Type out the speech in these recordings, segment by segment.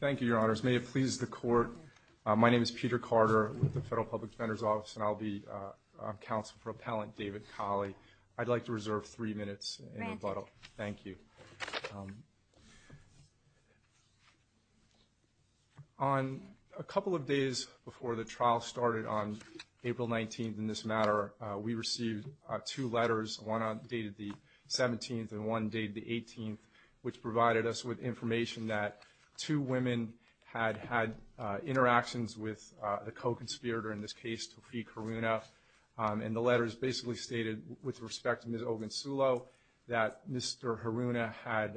Thank you, your honors. May it please the court, my name is Peter Carter with the Federal Public Defender's Office and I'll be counsel for Appellant David Kollie. I'd like to reserve three minutes in rebuttal. Thank you. On a couple of days before the trial started on April 19th in this matter, we received two letters, one dated the 17th and one dated the 18th, which provided us with two women had had interactions with the co-conspirator, in this case Taufiq Haruna, and the letters basically stated, with respect to Ms. Ogunsulo, that Mr. Haruna had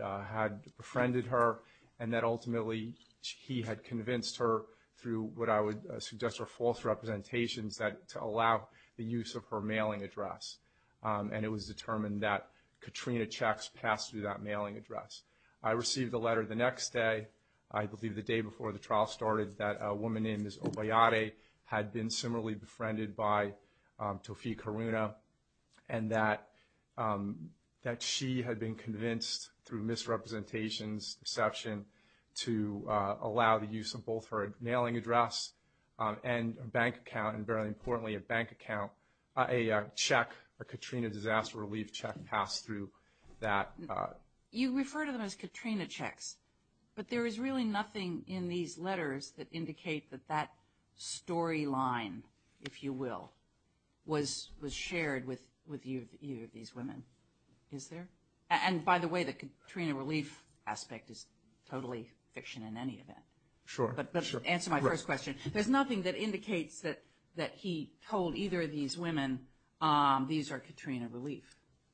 befriended her and that ultimately he had convinced her through what I would suggest are false representations that to allow the use of her mailing address, and it was determined that Katrina checks passed through that mailing address. I received a letter the next day, I believe the day before the trial started, that a woman named Ms. Obayate had been similarly befriended by Taufiq Haruna and that she had been convinced through misrepresentations, deception, to allow the use of both her mailing address and bank account, and very importantly a bank account, a check, a Katrina disaster relief check passed through that. You refer to them as Katrina checks, but there is really nothing in these letters that indicate that that storyline, if you will, was shared with either of these women, is there? And by the way, the Katrina relief aspect is totally fiction in any event. Sure. But answer my first question, there's nothing that indicates that that he told either of these women these are Katrina relief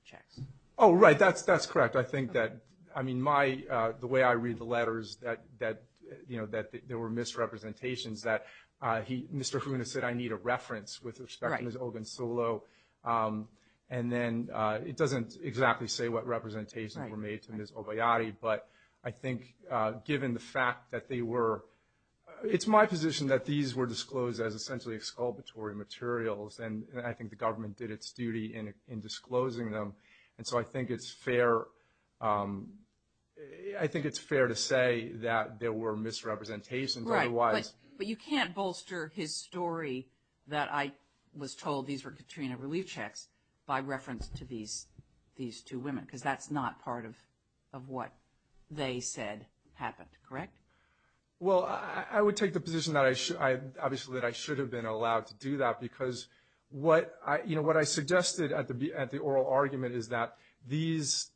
checks. Oh right, that's correct. I think that, I mean, the way I read the letters that there were misrepresentations, that Mr. Haruna said I need a reference with respect to Ms. Ogunsulo, and then it doesn't exactly say what representations were made to Ms. Obayate, but I think given the fact that they were, it's my position that these were disclosed as essentially exculpatory materials, and I think the government did its duty in disclosing them, and so I think it's fair, I think it's fair to say that there were misrepresentations. Right, but you can't bolster his story that I was told these were Katrina relief checks by reference to these these two women, because that's not part of what they said happened, correct? Well, I would take the position that I should, obviously that I should have been allowed to do that, because what I, you know, what I suggested at the oral argument is that these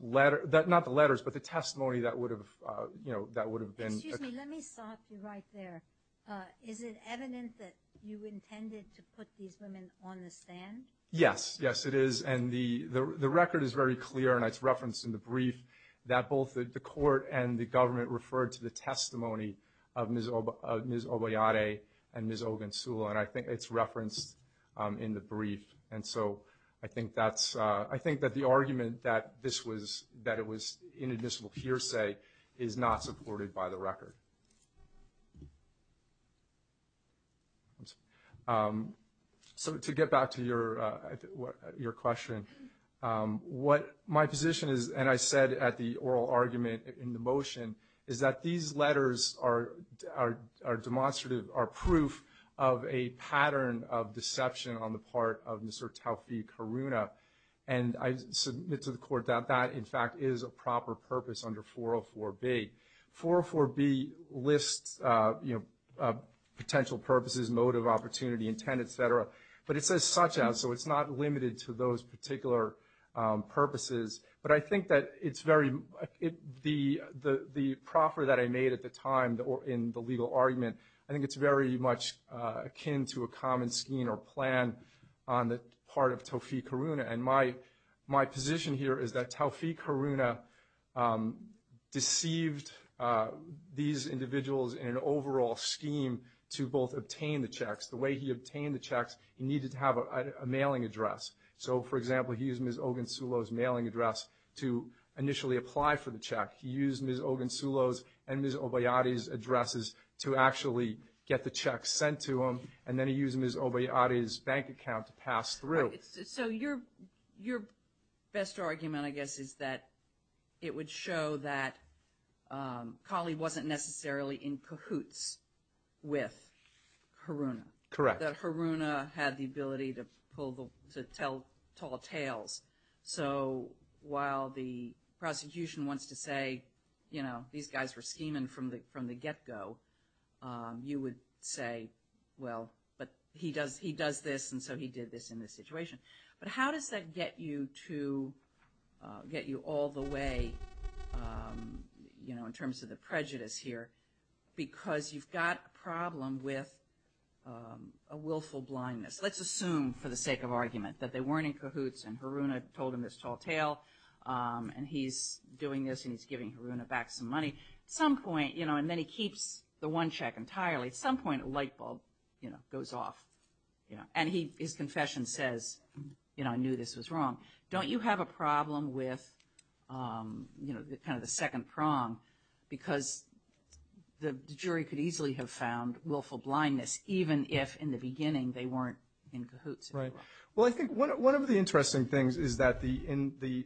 letters, not the letters, but the testimony that would have, you know, that would have been. Excuse me, let me stop you right there. Is it evident that you intended to put these women on the stand? Yes, yes it is, and the record is very clear, and it's referenced in the brief, that both the Ms. Obeyade and Ms. Ogunsula, and I think it's referenced in the brief, and so I think that's, I think that the argument that this was, that it was inadmissible hearsay is not supported by the record. So to get back to your, your question, what my position is, and I said at the our demonstrative, our proof of a pattern of deception on the part of Mr. Taufiq Haruna, and I submit to the court that that, in fact, is a proper purpose under 404B. 404B lists, you know, potential purposes, motive, opportunity, intent, etc., but it says such as, so it's not limited to those particular purposes, but I think that it's very, the, the proffer that I made at the time in the legal argument, I think it's very much akin to a common scheme or plan on the part of Taufiq Haruna, and my, my position here is that Taufiq Haruna deceived these individuals in an overall scheme to both obtain the checks. The way he obtained the checks, he needed to have a mailing address. So for example, he used Ms. Ogunsula's mailing address to initially apply for the check. He used Ms. Ogunsula's and Ms. Obeyati's addresses to actually get the check sent to him, and then he used Ms. Obeyati's bank account to pass through. So your, your best argument, I guess, is that it would show that Kali wasn't necessarily in cahoots with Haruna. Correct. That Haruna had the ability to pull the, to tell tall you know, these guys were scheming from the, from the get-go. You would say, well, but he does, he does this, and so he did this in this situation. But how does that get you to get you all the way, you know, in terms of the prejudice here? Because you've got a problem with a willful blindness. Let's assume, for the sake of argument, that they weren't in cahoots and Haruna told him this tall tale, and he's doing this, and he's giving Haruna back some money. At some point, you know, and then he keeps the one check entirely. At some point, a light bulb, you know, goes off, you know, and he, his confession says, you know, I knew this was wrong. Don't you have a problem with, you know, the kind of the second prong? Because the jury could easily have found willful blindness, even if in the beginning they weren't in cahoots. Right. Well, I think one, one of the interesting things is that the, in the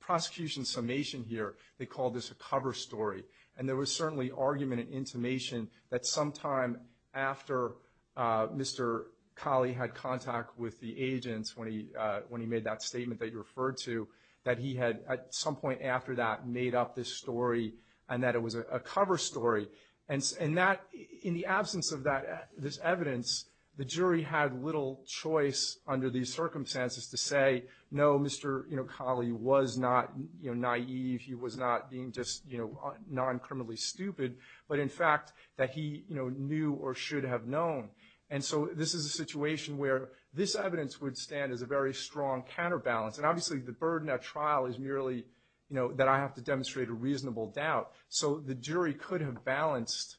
prosecution's summation here, they call this a cover story. And there was certainly argument and intimation that sometime after Mr. Kali had contact with the agents, when he, when he made that statement that you referred to, that he had, at some point after that, made up this story, and that it was a cover story. And, and that, in the absence of that, this evidence, the jury had little choice under these circumstances to say, no, Mr. Kali was not naive. He was not being just, you know, non-criminally stupid. But in fact, that he, you know, knew or should have known. And so, this is a situation where this evidence would stand as a very strong counterbalance. And obviously, the burden at trial is merely, you know, that I have to demonstrate a reasonable doubt. So, the jury could have balanced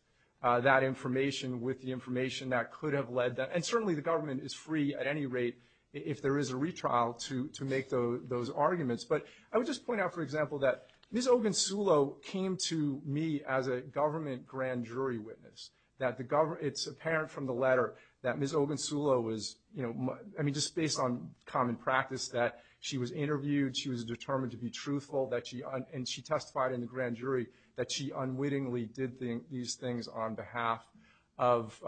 that information with the information that could have led that. And certainly, the if there is a retrial to, to make those, those arguments. But I would just point out, for example, that Ms. Ogunsulo came to me as a government grand jury witness. That the government, it's apparent from the letter that Ms. Ogunsulo was, you know, I mean, just based on common practice, that she was interviewed, she was determined to be truthful, that she, and she testified in the grand jury, that she unwittingly did these things on behalf of,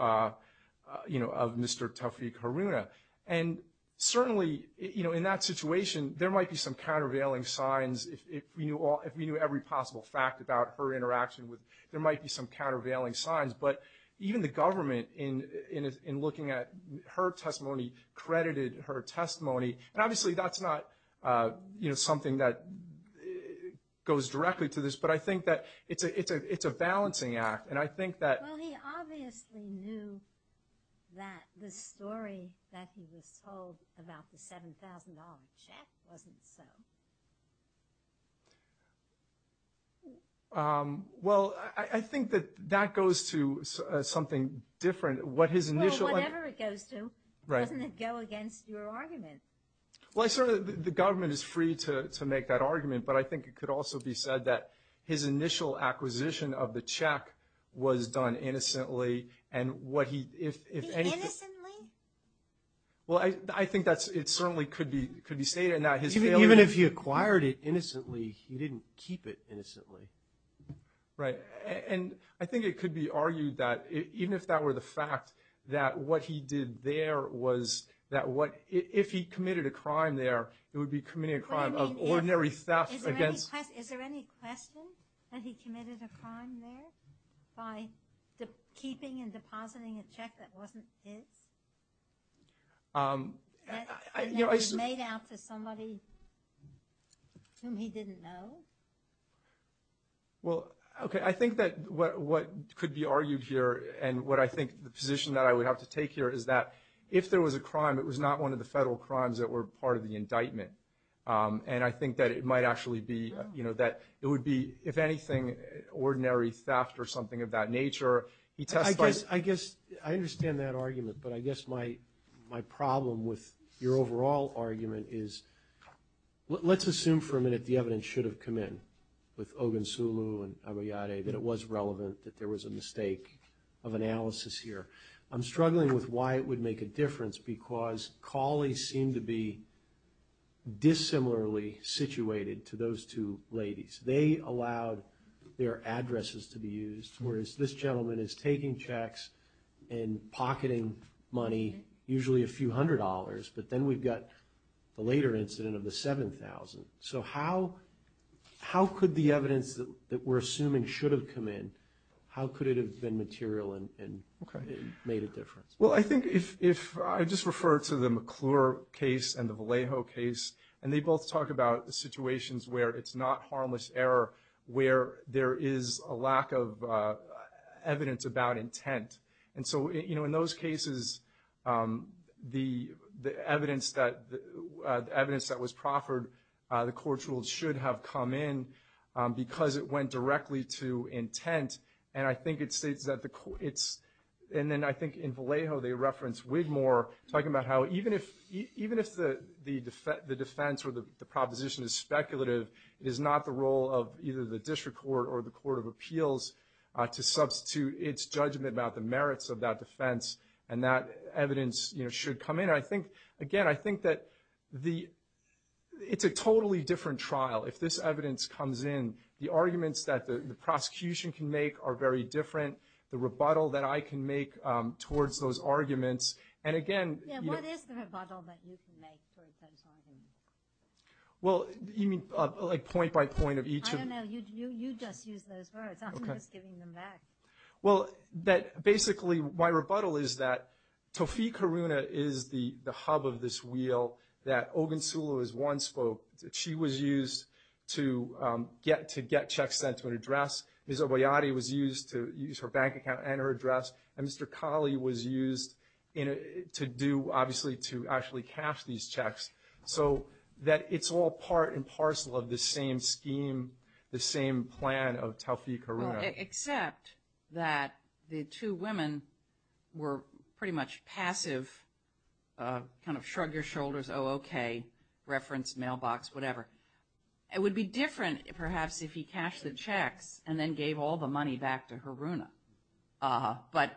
you know, of Mr. Taufiq Haruna. And certainly, you know, in that situation, there might be some countervailing signs if, if we knew all, if we knew every possible fact about her interaction with, there might be some countervailing signs. But even the government in, in, in looking at her testimony, credited her testimony. And obviously, that's not you know, something that goes directly to this. But I think that it's a, it's a, it's a balancing act. And I think that. Well, he obviously knew that the story that he was told about the $7,000 check wasn't so. Well, I, I think that, that goes to something different. What his initial. Well, whatever it goes to, doesn't it go against your argument? Well, I sort of, the, the government is free to, to make that argument. But I think it could also be said that his initial acquisition of the check was done innocently. And what he, if, if any. Innocently? Well, I, I think that's, it certainly could be, could be stated in that his failure. Even if he acquired it innocently, he didn't keep it innocently. Right. And I think it could be argued that, even if that were the fact that what he did there was that what, if he committed a crime there, it would be committing a crime of ordinary theft against. Is there any question that he committed a crime there? By the, keeping and depositing a check that wasn't his? I, I, you know, I. That was made out to somebody whom he didn't know? Well, okay, I think that what, what could be argued here, and what I think the position that I would have to take here is that, if there was a crime, it was not one of the federal crimes that were part of the indictment. And I think that it might actually be, you know, that it would be, if anything, ordinary theft or something of that nature. He testified. I guess, I understand that argument, but I guess my, my problem with your overall argument is, let's assume for a minute the evidence should have come in. With Ogunsulu and Abayade, that it was relevant, that there was a mistake of analysis here. I'm struggling with why it would make a difference, because Cawley seemed to be dissimilarly situated to those two ladies. They allowed their addresses to be used, whereas this gentleman is taking checks and pocketing money, usually a few hundred dollars, but then we've got the later incident of the 7,000. So how, how could the evidence that, that we're assuming should have come in, how could it have been material and, and made a difference? Well, I think if, if I just refer to the McClure case and the Vallejo case, and they both talk about the situations where it's not harmless error, where there is a lack of evidence about intent. And so, you know, in those cases, the, the evidence that, the evidence that was proffered, the court's rules should have come in, because it went directly to Vallejo, they referenced Wigmore, talking about how even if, even if the, the defense, the defense or the proposition is speculative, it is not the role of either the district court or the court of appeals to substitute its judgment about the merits of that defense, and that evidence, you know, should come in. I think, again, I think that the, it's a totally different trial. If this evidence comes in, the arguments that the, the prosecution can make are very different. The rebuttal that I can make towards those arguments, and again, you know. Yeah, what is the rebuttal that you can make towards those arguments? Well, you mean, like, point by point of each of them? I don't know, you, you, you just use those words, I'm just giving them back. Well, that, basically, my rebuttal is that Tofi Caruna is the, the hub of this wheel, that Ogunsula was one spoke, that she was used to get, to get checks sent to an address, Ms. Oboyade was used to use her bank account and her address, and Mr. Colley was used in a, to do, obviously, to actually cash these checks, so that it's all part and parcel of the same scheme, the same plan of Tofi Caruna. Except that the two women were pretty much passive, kind of shrug your shoulders, oh, okay, reference, mailbox, whatever. It would be different, perhaps, if he cashed the checks and then gave all the money back to Caruna. But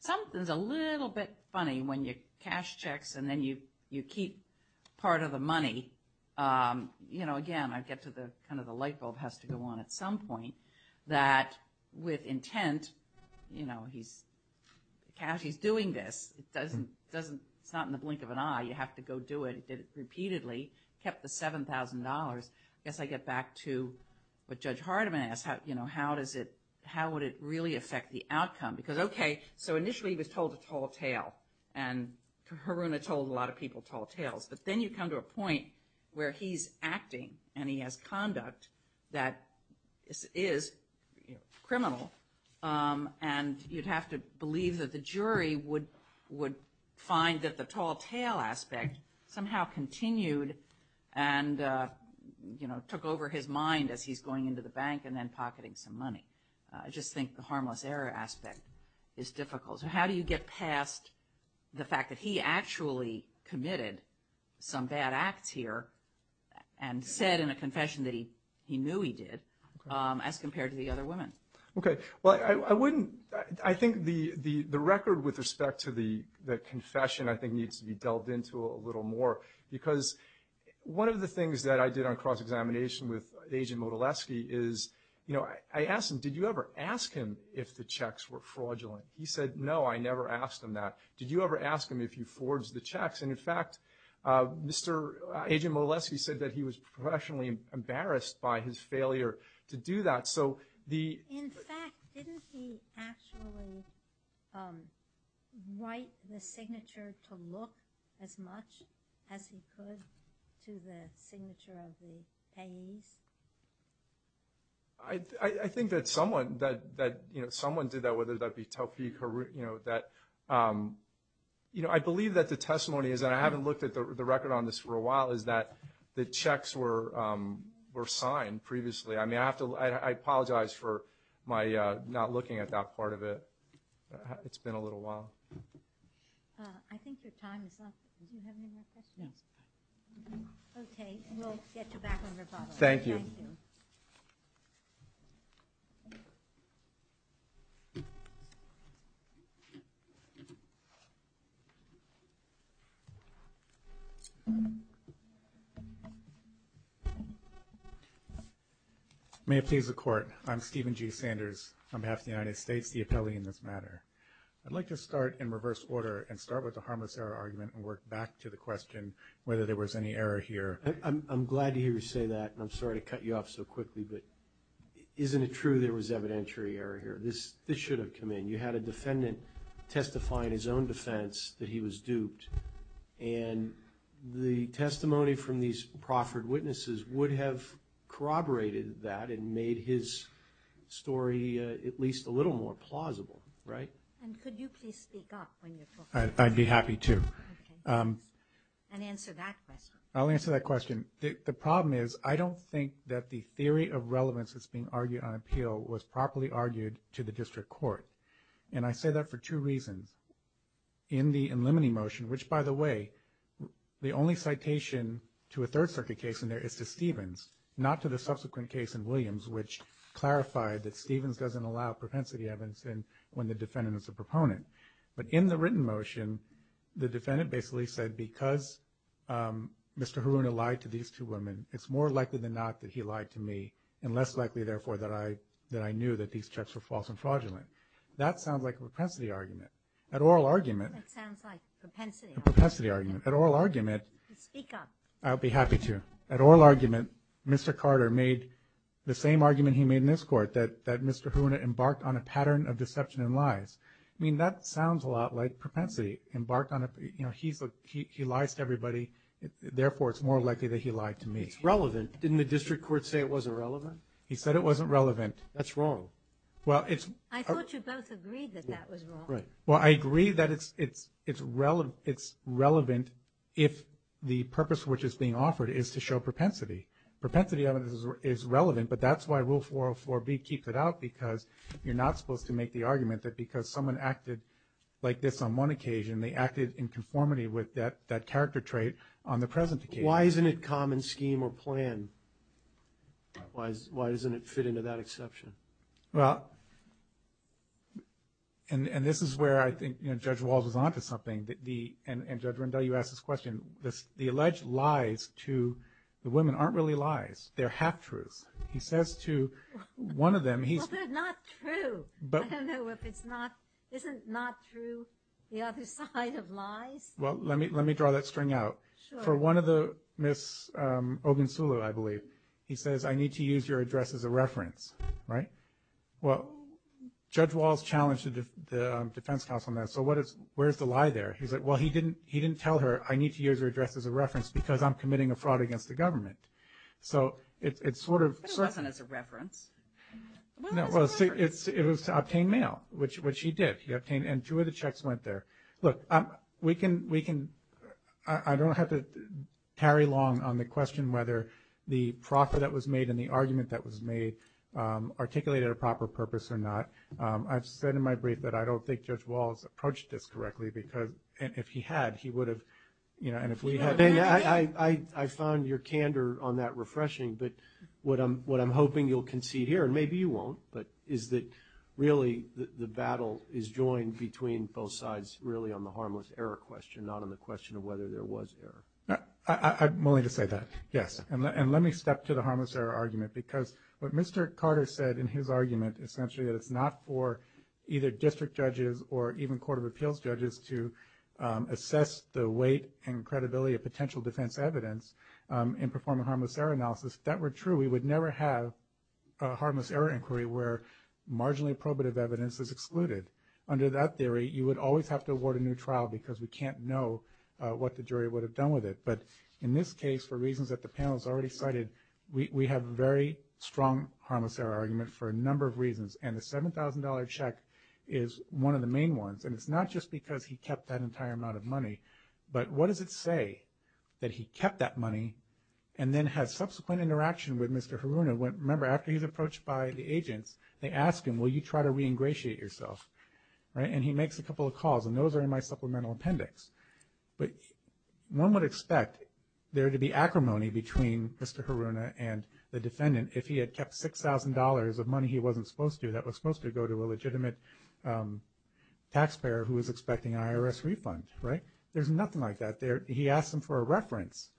something's a little bit funny when you cash checks and then you, you keep part of the money. You know, again, I get to the, kind of the light bulb has to go on at some point. That with intent, you know, he's, cash, he's doing this. It doesn't, doesn't, it's not in the blink of an eye, you have to go do it. He did it repeatedly, kept the $7,000. I guess I get back to what Judge Hardiman asked, how, you know, how does it, how would it really affect the outcome? Because, okay, so initially he was told to tall tale. And Caruna told a lot of people tall tales. But then you come to a point where he's acting and he has conduct that is, is, you know, criminal. And you'd have to believe that the jury would, would find that the tall tale aspect somehow continued. And you know, took over his mind as he's going into the bank and then pocketing some money. I just think the harmless error aspect is difficult. So how do you get past the fact that he actually committed some bad acts here. And said in a confession that he, he knew he did as compared to the other women. Okay, well, I, I wouldn't, I think the, the, the record with respect to the, the confession I think needs to be delved into a little more. Because one of the things that I did on cross examination with Agent Motileski is, you know, I, I asked him, did you ever ask him if the checks were fraudulent? He said, no, I never asked him that. Did you ever ask him if you forged the checks? And in fact Mr. Agent Motileski said that he was professionally embarrassed by his failure to do that. So, the. In fact, didn't he actually write the signature to look as much as he could to the signature of the payees? I, I, I think that someone, that, that, you know, someone did that, whether that be Taufiq or, you know, that you know, I believe that the testimony is, and I haven't looked at the, the record on this for a while, is that the checks were were signed previously. I mean, I have to, I, I apologize for my not looking at that part of it. It's been a little while. I think your time is up. Do you have any more questions? Yes. Okay, we'll get you back on rebuttal. Thank you. Thank you. May it please the court, I'm Stephen G. Sanders, on behalf of the United States, the appellee in this matter. I'd like to start in reverse order and start with the harmless error argument and work back to the question whether there was any error here. I'm, I'm glad to hear you say that, and I'm sorry to cut you off so quickly, but isn't it true there was evidentiary error here? This, this should have come in. You had a defendant testifying his own defense that he was duped. And the testimony from these proffered witnesses would have corroborated that and made his story at least a little more plausible, right? And could you please speak up when you're talking? I'd be happy to. Okay. And answer that question. I'll answer that question. The, the problem is, I don't think that the theory of relevance that's being argued on appeal was properly argued to the district court. And I say that for two reasons. In the eliminating motion, which by the way, the only citation to a third circuit case in there is to Stevens, not to the subsequent case in Williams, which clarified that Stevens doesn't allow propensity evidence in when the defendant is a proponent. But in the written motion, the defendant basically said, because Mr. Haruna lied to these two women, it's more likely than not that he lied to me, and less likely therefore that I, that I knew that these checks were false and fraudulent. That sounds like a propensity argument. At oral argument. That sounds like a propensity argument. A propensity argument. At oral argument. Speak up. I'll be happy to. At oral argument, Mr. Carter made the same argument he made in this court, that, that Mr. Haruna embarked on a pattern of deception and lies. I mean, that sounds a lot like propensity. Embarked on a, you know, he's a, he, he lies to everybody. Therefore, it's more likely that he lied to me. It's relevant. Didn't the district court say it wasn't relevant? He said it wasn't relevant. That's wrong. Well, it's. I thought you both agreed that that was wrong. Right. Well, I agree that it's, it's, it's relevant, it's relevant if the purpose which is being offered is to show propensity. Propensity evidence is relevant, but that's why rule 404B keeps it out, because you're not supposed to make the argument that because someone acted like this on one occasion, they acted in conformity with that, that character trait on the present occasion. Why isn't it common scheme or plan? Why, why doesn't it fit into that exception? Well, and, and this is where I think, you know, Judge Walz was onto something. The, the, and, and Judge Rundell, you asked this question. This, the alleged lies to the women aren't really lies. They're half-truths. He says to one of them, he's. Well, they're not true. But. I don't know if it's not, isn't not true the other side of lies. Well, let me, let me draw that string out. Sure. For one of the Miss Ogunsula, I believe. He says, I need to use your address as a reference. Right? Well, Judge Walz challenged the, the defense counsel on that. So what is, where's the lie there? He's like, well, he didn't, he didn't tell her, I need to use her address as a reference because I'm committing a fraud against the government. So, it's, it's sort of. It wasn't as a reference. No, well, see, it's, it was to obtain mail, which, which he did. He obtained, and two of the checks went there. Look, we can, we can, I, I don't have to tarry long on the question whether the profit that was made and the argument that was made articulated a proper purpose or not. I've said in my brief that I don't think Judge Walz approached this correctly because, and if he had, he would have, you know, and if we had. I, I, I, I found your candor on that refreshing, but what I'm, what I'm hoping you'll concede here, and maybe you won't, but is that really the, the battle is joined between both sides really on the harmless error question, not on the question of whether there was error. I, I, I'm willing to say that, yes. And let, and let me step to the harmless error argument because what Mr. Carter said in his for either district judges or even court of appeals judges to assess the weight and credibility of potential defense evidence and perform a harmless error analysis, if that were true, we would never have a harmless error inquiry where marginally probative evidence is excluded. Under that theory, you would always have to award a new trial because we can't know what the jury would have done with it. But in this case, for reasons that the panel has already cited, we, we have a very strong harmless error argument for a number of reasons. And the $7,000 check is one of the main ones. And it's not just because he kept that entire amount of money, but what does it say that he kept that money and then has subsequent interaction with Mr. Haruna when, remember, after he's approached by the agents, they ask him, will you try to re-ingratiate yourself? Right? And he makes a couple of calls, and those are in my supplemental appendix. But one would expect there to be acrimony between Mr. Haruna and the defendant if he had kept $6,000 of money he wasn't supposed to, that was supposed to go to a legitimate taxpayer who was expecting an IRS refund, right? There's nothing like that there. He asked them for a reference,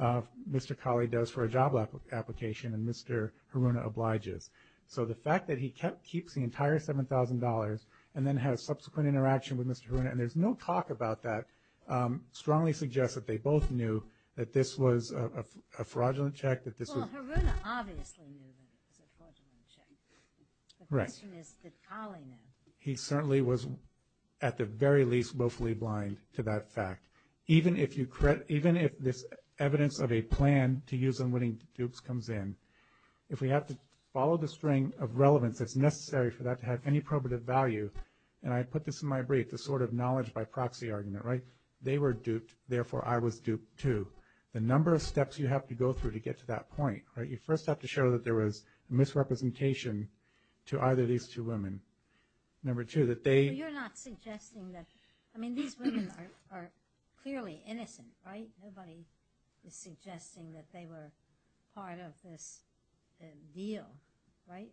Mr. Colley does for a job application, and Mr. Haruna obliges. So the fact that he kept, keeps the entire $7,000 and then has subsequent interaction with Mr. Haruna, and there's no talk about that, strongly suggests that they both knew that this was a fraudulent check, that this was- A fraudulent check. Right. The question is, did Colley know? He certainly was, at the very least, willfully blind to that fact. Even if this evidence of a plan to use unwitting dupes comes in, if we have to follow the string of relevance that's necessary for that to have any probative value, and I put this in my brief, the sort of knowledge by proxy argument, right? They were duped, therefore I was duped too. The number of steps you have to go through to get to that point, right, you first have to show that there was misrepresentation to either of these two women. Number two, that they- So you're not suggesting that, I mean, these women are clearly innocent, right? Nobody is suggesting that they were part of this deal, right?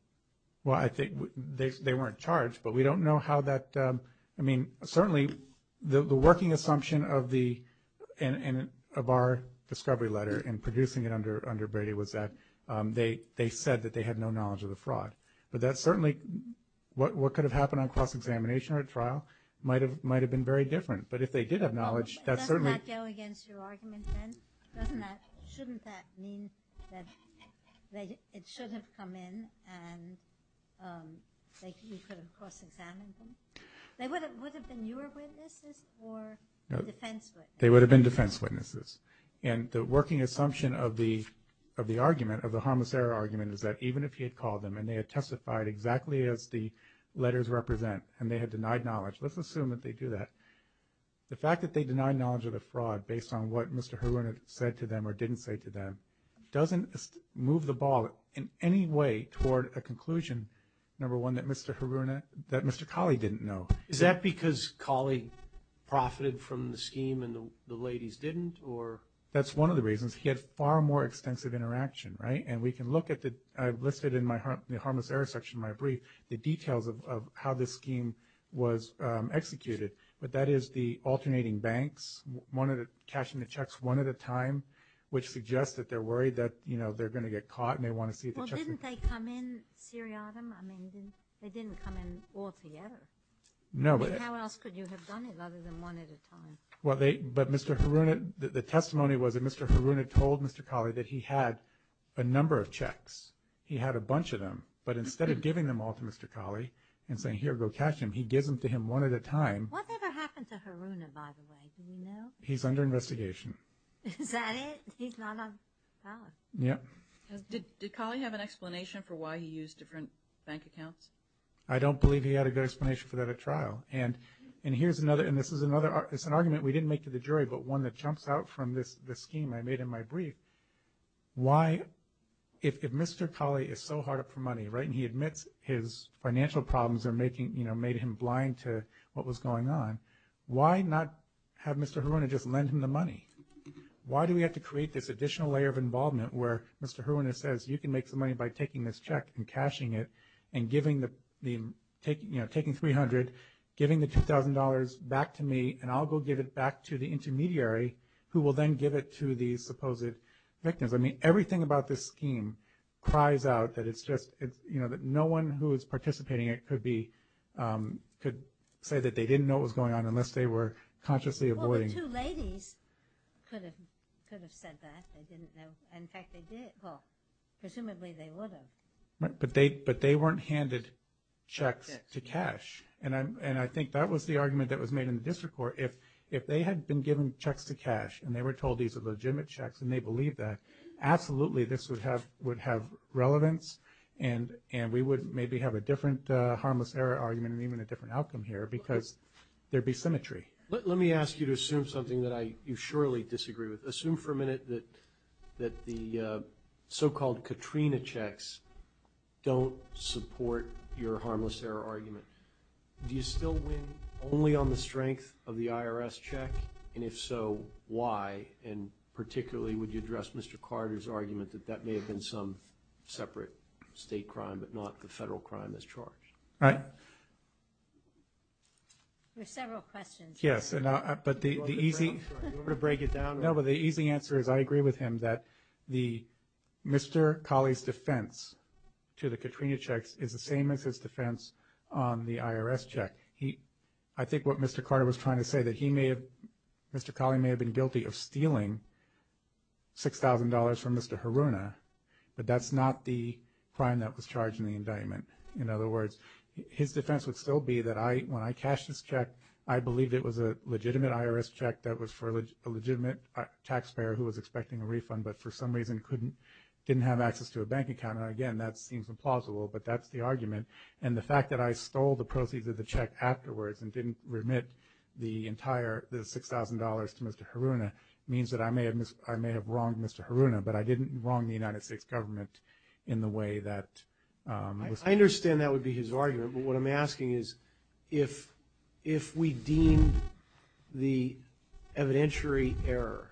Well, I think they weren't charged, but we don't know how that, I mean, certainly the working assumption of the, of our discovery letter and producing it under Brady was that they said that they had no knowledge of the fraud. But that certainly, what could have happened on cross-examination or at trial might have been very different. But if they did have knowledge, that certainly- Doesn't that go against your argument, then? Doesn't that, shouldn't that mean that it should have come in and you could have cross-examined them? They would have been your witnesses or defense witnesses? They would have been defense witnesses. And the working assumption of the argument, of the harmless error argument, is that even if he had called them and they had testified exactly as the letters represent and they had denied knowledge, let's assume that they do that, the fact that they denied knowledge of the fraud based on what Mr. Haruna said to them or didn't say to them doesn't move the ball in any way toward a conclusion, number one, that Mr. Haruna, that Mr. Kali didn't know. Is that because Kali profited from the scheme and the ladies didn't, or- That's one of the reasons. He had far more extensive interaction, right? And we can look at the, I've listed in my harmless error section in my brief, the details of how this scheme was executed. But that is the alternating banks, one of the cashing the checks one at a time, which suggests that they're worried that, you know, they're going to get caught and they want to see- Well, didn't they come in seriatim? I mean, they didn't come in all together. No, but- How else could you have done it other than one at a time? Well, they, but Mr. Haruna, the testimony was that Mr. Haruna told Mr. Kali that he had a number of checks. He had a bunch of them. But instead of giving them all to Mr. Kali and saying, here, go cash them, he gives them to him one at a time. What ever happened to Haruna, by the way? Do we know? He's under investigation. Is that it? He's not on trial. Yeah. Did Kali have an explanation for why he used different bank accounts? I don't believe he had a good explanation for that at trial. And here's another, and this is another, it's an argument we didn't make to the jury, but one that jumps out from this scheme I made in my brief. Why, if Mr. Kali is so hard up for money, right, and he admits his financial problems are making, you know, made him blind to what was going on, why not have Mr. Haruna just lend him the money? Why do we have to create this additional layer of involvement where Mr. Haruna says, you can make some money by taking this check and cashing it, and giving the, you know, taking $300, giving the $2,000 back to me, and I'll go give it back to the intermediary who will then give it to the supposed victims. I mean, everything about this scheme cries out that it's just, you know, that no one who is participating in it could be, could say that they didn't know what was going on unless they were consciously avoiding. Well, the two ladies could have said that. They didn't know. In fact, they did. Well, presumably they would have. But they, but they weren't handed checks to cash. And I'm, and I think that was the argument that was made in the district court. If, if they had been given checks to cash and they were told these are legitimate checks and they believed that, absolutely this would have, would have relevance and, and we would maybe have a different harmless error argument and even a different outcome here because there'd be symmetry. Let me ask you to assume something that I, you surely disagree with. Assume for a minute that, that the so-called Katrina checks don't support your harmless error argument. Do you still win only on the strength of the IRS check? And if so, why? And particularly, would you address Mr. Carter's argument that that may have been some separate state crime, but not the federal crime that's charged? Right. There are several questions. Yes. And I, but the, the easy. You want me to break it down? No, but the easy answer is I agree with him that the, Mr. Colley's defense to the Katrina checks is the same as his defense on the IRS check. He, I think what Mr. Carter was trying to say that he may have, Mr. Colley may have been guilty of stealing $6,000 from Mr. Haruna, but that's not the crime that was charged in the indictment. In other words, his defense would still be that I, when I cashed this check, I believed it was a legitimate IRS check that was for a legitimate taxpayer who was expecting a refund, but for some reason couldn't, didn't have access to a bank account. And again, that seems implausible, but that's the argument. And the fact that I stole the proceeds of the check afterwards and didn't remit the entire, the $6,000 to Mr. Haruna means that I may have, I may have wronged Mr. Haruna, but I didn't wrong the United States government in the way that. I understand that would be his argument, but what I'm asking is if, if we deem the evidentiary error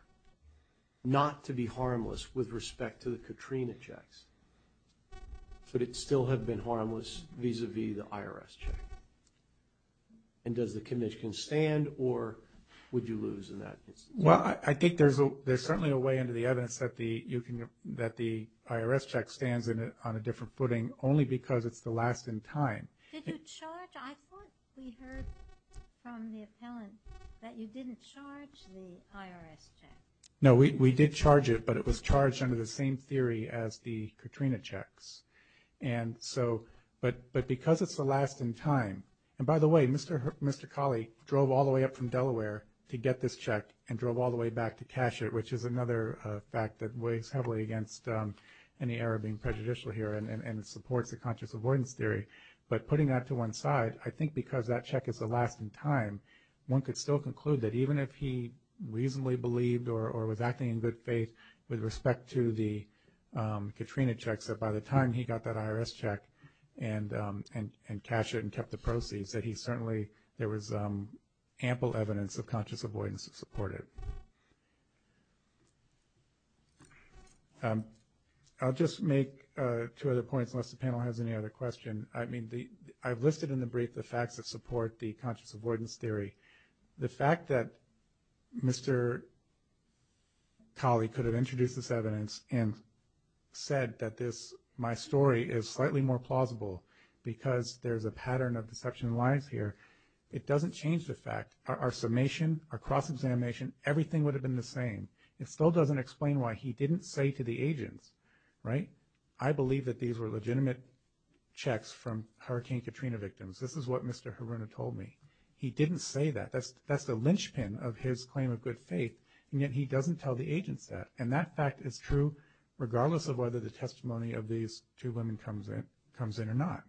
not to be harmless with respect to the Katrina checks, could it still have been harmless vis-a-vis the IRS check? And does the commission stand or would you lose in that instance? Well, I think there's a, there's certainly a way into the evidence that the, you can, that the IRS check stands in it on a different footing only because it's the last in time. Did you charge? I thought we heard from the appellant that you didn't charge the IRS check. No, we, we did charge it, but it was charged under the same theory as the Katrina checks. And so, but, but because it's the last in time, and by the way, Mr. Holly drove all the way up from Delaware to get this check and drove all the way back to cash it, which is another fact that weighs heavily against any error being prejudicial here and supports the conscious avoidance theory. But putting that to one side, I think because that check is the last in time, one could still conclude that even if he reasonably believed or was acting in good faith with respect to the Katrina checks, that by the time he got that IRS check and cashed it and kept the proceeds, that he certainly, there was ample evidence of conscious avoidance to support it. I'll just make two other points unless the panel has any other question. I mean, I've listed in the brief the facts that support the conscious avoidance theory. The fact that Mr. Talley could have introduced this evidence and said that this, my story is slightly more plausible because there's a pattern of deception lies here. It doesn't change the fact, our summation, our cross-examination, everything would have been the same. It still doesn't explain why he didn't say to the agents, right, I believe that these were legitimate checks from Hurricane Katrina victims. This is what Mr. Haruna told me. He didn't say that. That's the linchpin of his claim of good faith, and yet he doesn't tell the agents that. And that fact is true regardless of whether the testimony of these two women comes in or not.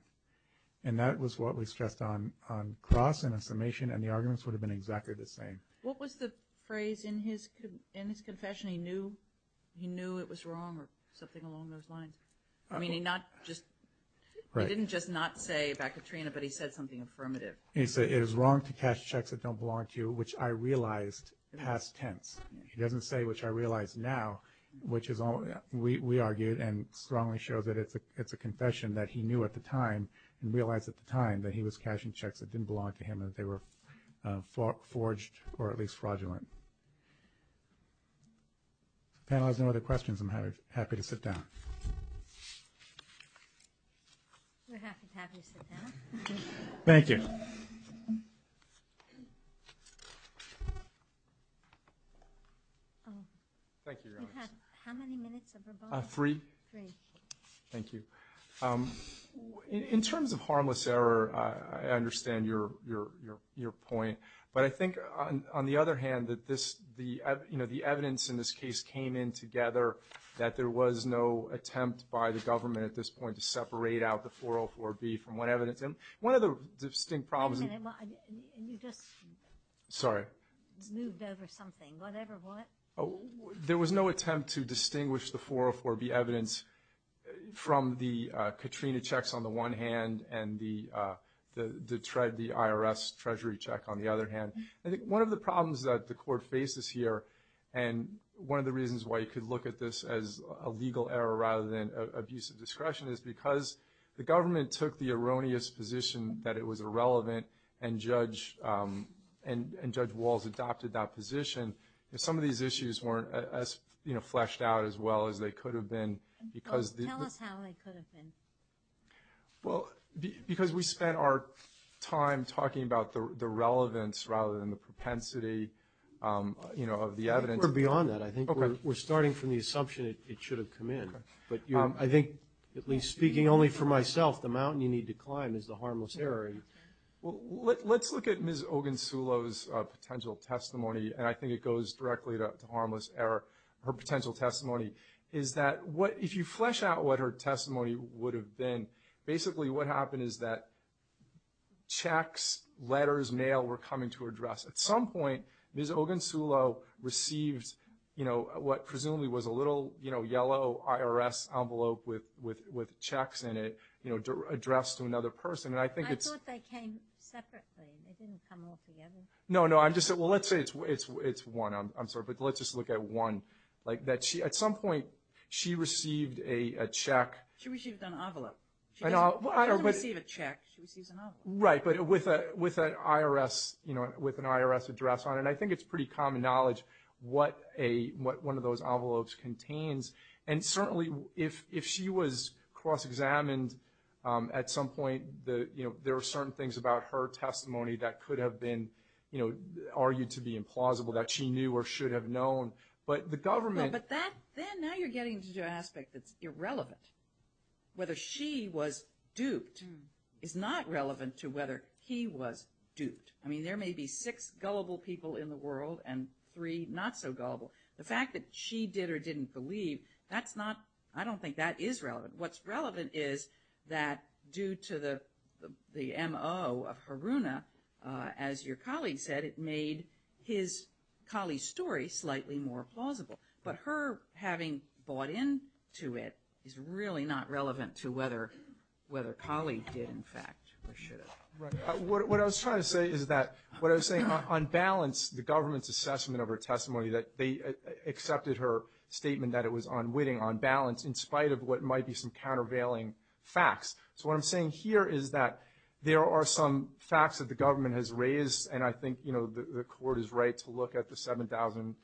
And that was what we stressed on cross and a summation, and the arguments would have been exactly the same. What was the phrase in his confession? He knew it was wrong or something along those lines. I mean, he not just, he didn't just not say about Katrina, but he said something affirmative. He said, it is wrong to cash checks that don't belong to you, which I realized past tense. He doesn't say which I realize now, which is all we argued and strongly shows that it's a confession that he knew at the time and realized at the time that he was cashing checks that didn't belong to him and that they were forged or at least fraudulent. If the panel has no other questions, I'm happy to sit down. We're happy to have you sit down. Thank you. Thank you, Your Honor. You have how many minutes of rebuttal? Three. Three. Thank you. In terms of harmless error, I understand your point. But I think, on the other hand, that this, you know, the evidence in this case came in together that there was no attempt by the government at this point to separate out the 404B from what evidence. And one of the distinct problems. Wait a minute, you just moved over something. Whatever, what? There was no attempt to distinguish the 404B evidence from the Katrina checks on the one hand and the IRS treasury check on the other hand. I think one of the problems that the court faces here and one of the reasons why you could look at this as a legal error rather than abuse of discretion is because the government took the erroneous position that it was irrelevant and Judge Walls adopted that position. If some of these issues weren't as, you know, fleshed out as well as they could have been because the- Tell us how they could have been. Well, because we spent our time talking about the relevance rather than the propensity, you know, of the evidence. I think we're beyond that. I think we're starting from the assumption it should have come in. But I think, at least speaking only for myself, the mountain you need to climb is the harmless error. Well, let's look at Ms. Ogunsulo's potential testimony, and I think it goes directly to harmless error. Her potential testimony is that if you flesh out what her testimony would have been, basically what happened is that checks, letters, mail were coming to her address. At some point, Ms. Ogunsulo received, you know, what presumably was a little, you know, yellow IRS envelope with checks in it, you know, addressed to another person. I thought they came separately. They didn't come all together? No, no. I'm just saying, well, let's say it's one. I'm sorry, but let's just look at one. At some point, she received a check. She received an envelope. She doesn't receive a check. She receives an envelope. Right, but with an IRS address on it. And I think it's pretty common knowledge what one of those envelopes contains. And certainly, if she was cross-examined at some point, you know, there are certain things about her testimony that could have been, you know, argued to be implausible, that she knew or should have known. But the government... No, but that, now you're getting into an aspect that's irrelevant. Whether she was duped is not relevant to whether he was duped. I mean, there may be six gullible people in the world and three not so gullible. The fact that she did or didn't believe, that's not... I don't think that is relevant. What's relevant is that due to the MO of Haruna, as your colleague said, it made his colleague's story slightly more plausible. But her having bought into it is really not relevant to whether colleague did, in fact, or should have. Right. What I was trying to say is that, what I was saying, on balance, the government's assessment of her testimony, that they accepted her statement that it was unwitting, on balance, in spite of what might be some countervailing facts. So what I'm saying here is that there are some facts that the government has raised, and I think, you know, the court is right to look at the $7,000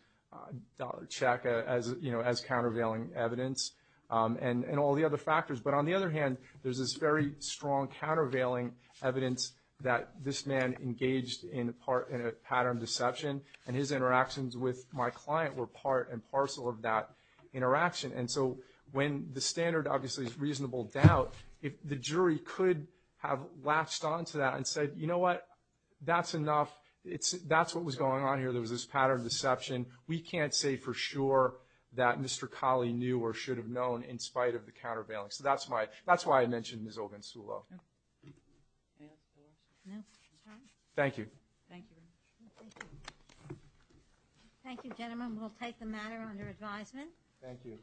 check as, you know, as countervailing evidence and all the other factors. But on the other hand, there's this very strong countervailing evidence that this man engaged in a pattern of deception, and his interactions with my client were part and parcel of that interaction. And so when the standard, obviously, is reasonable doubt, if the jury could have latched onto that and said, you know what, that's enough, that's what was going on here, there was this pattern of deception, we can't say for sure that Mr. Kali knew or should have known in spite of the countervailing. So that's why I mentioned Ms. Ogunsulo. Thank you. Thank you, gentlemen, we'll take the matter under advisement. Thank you.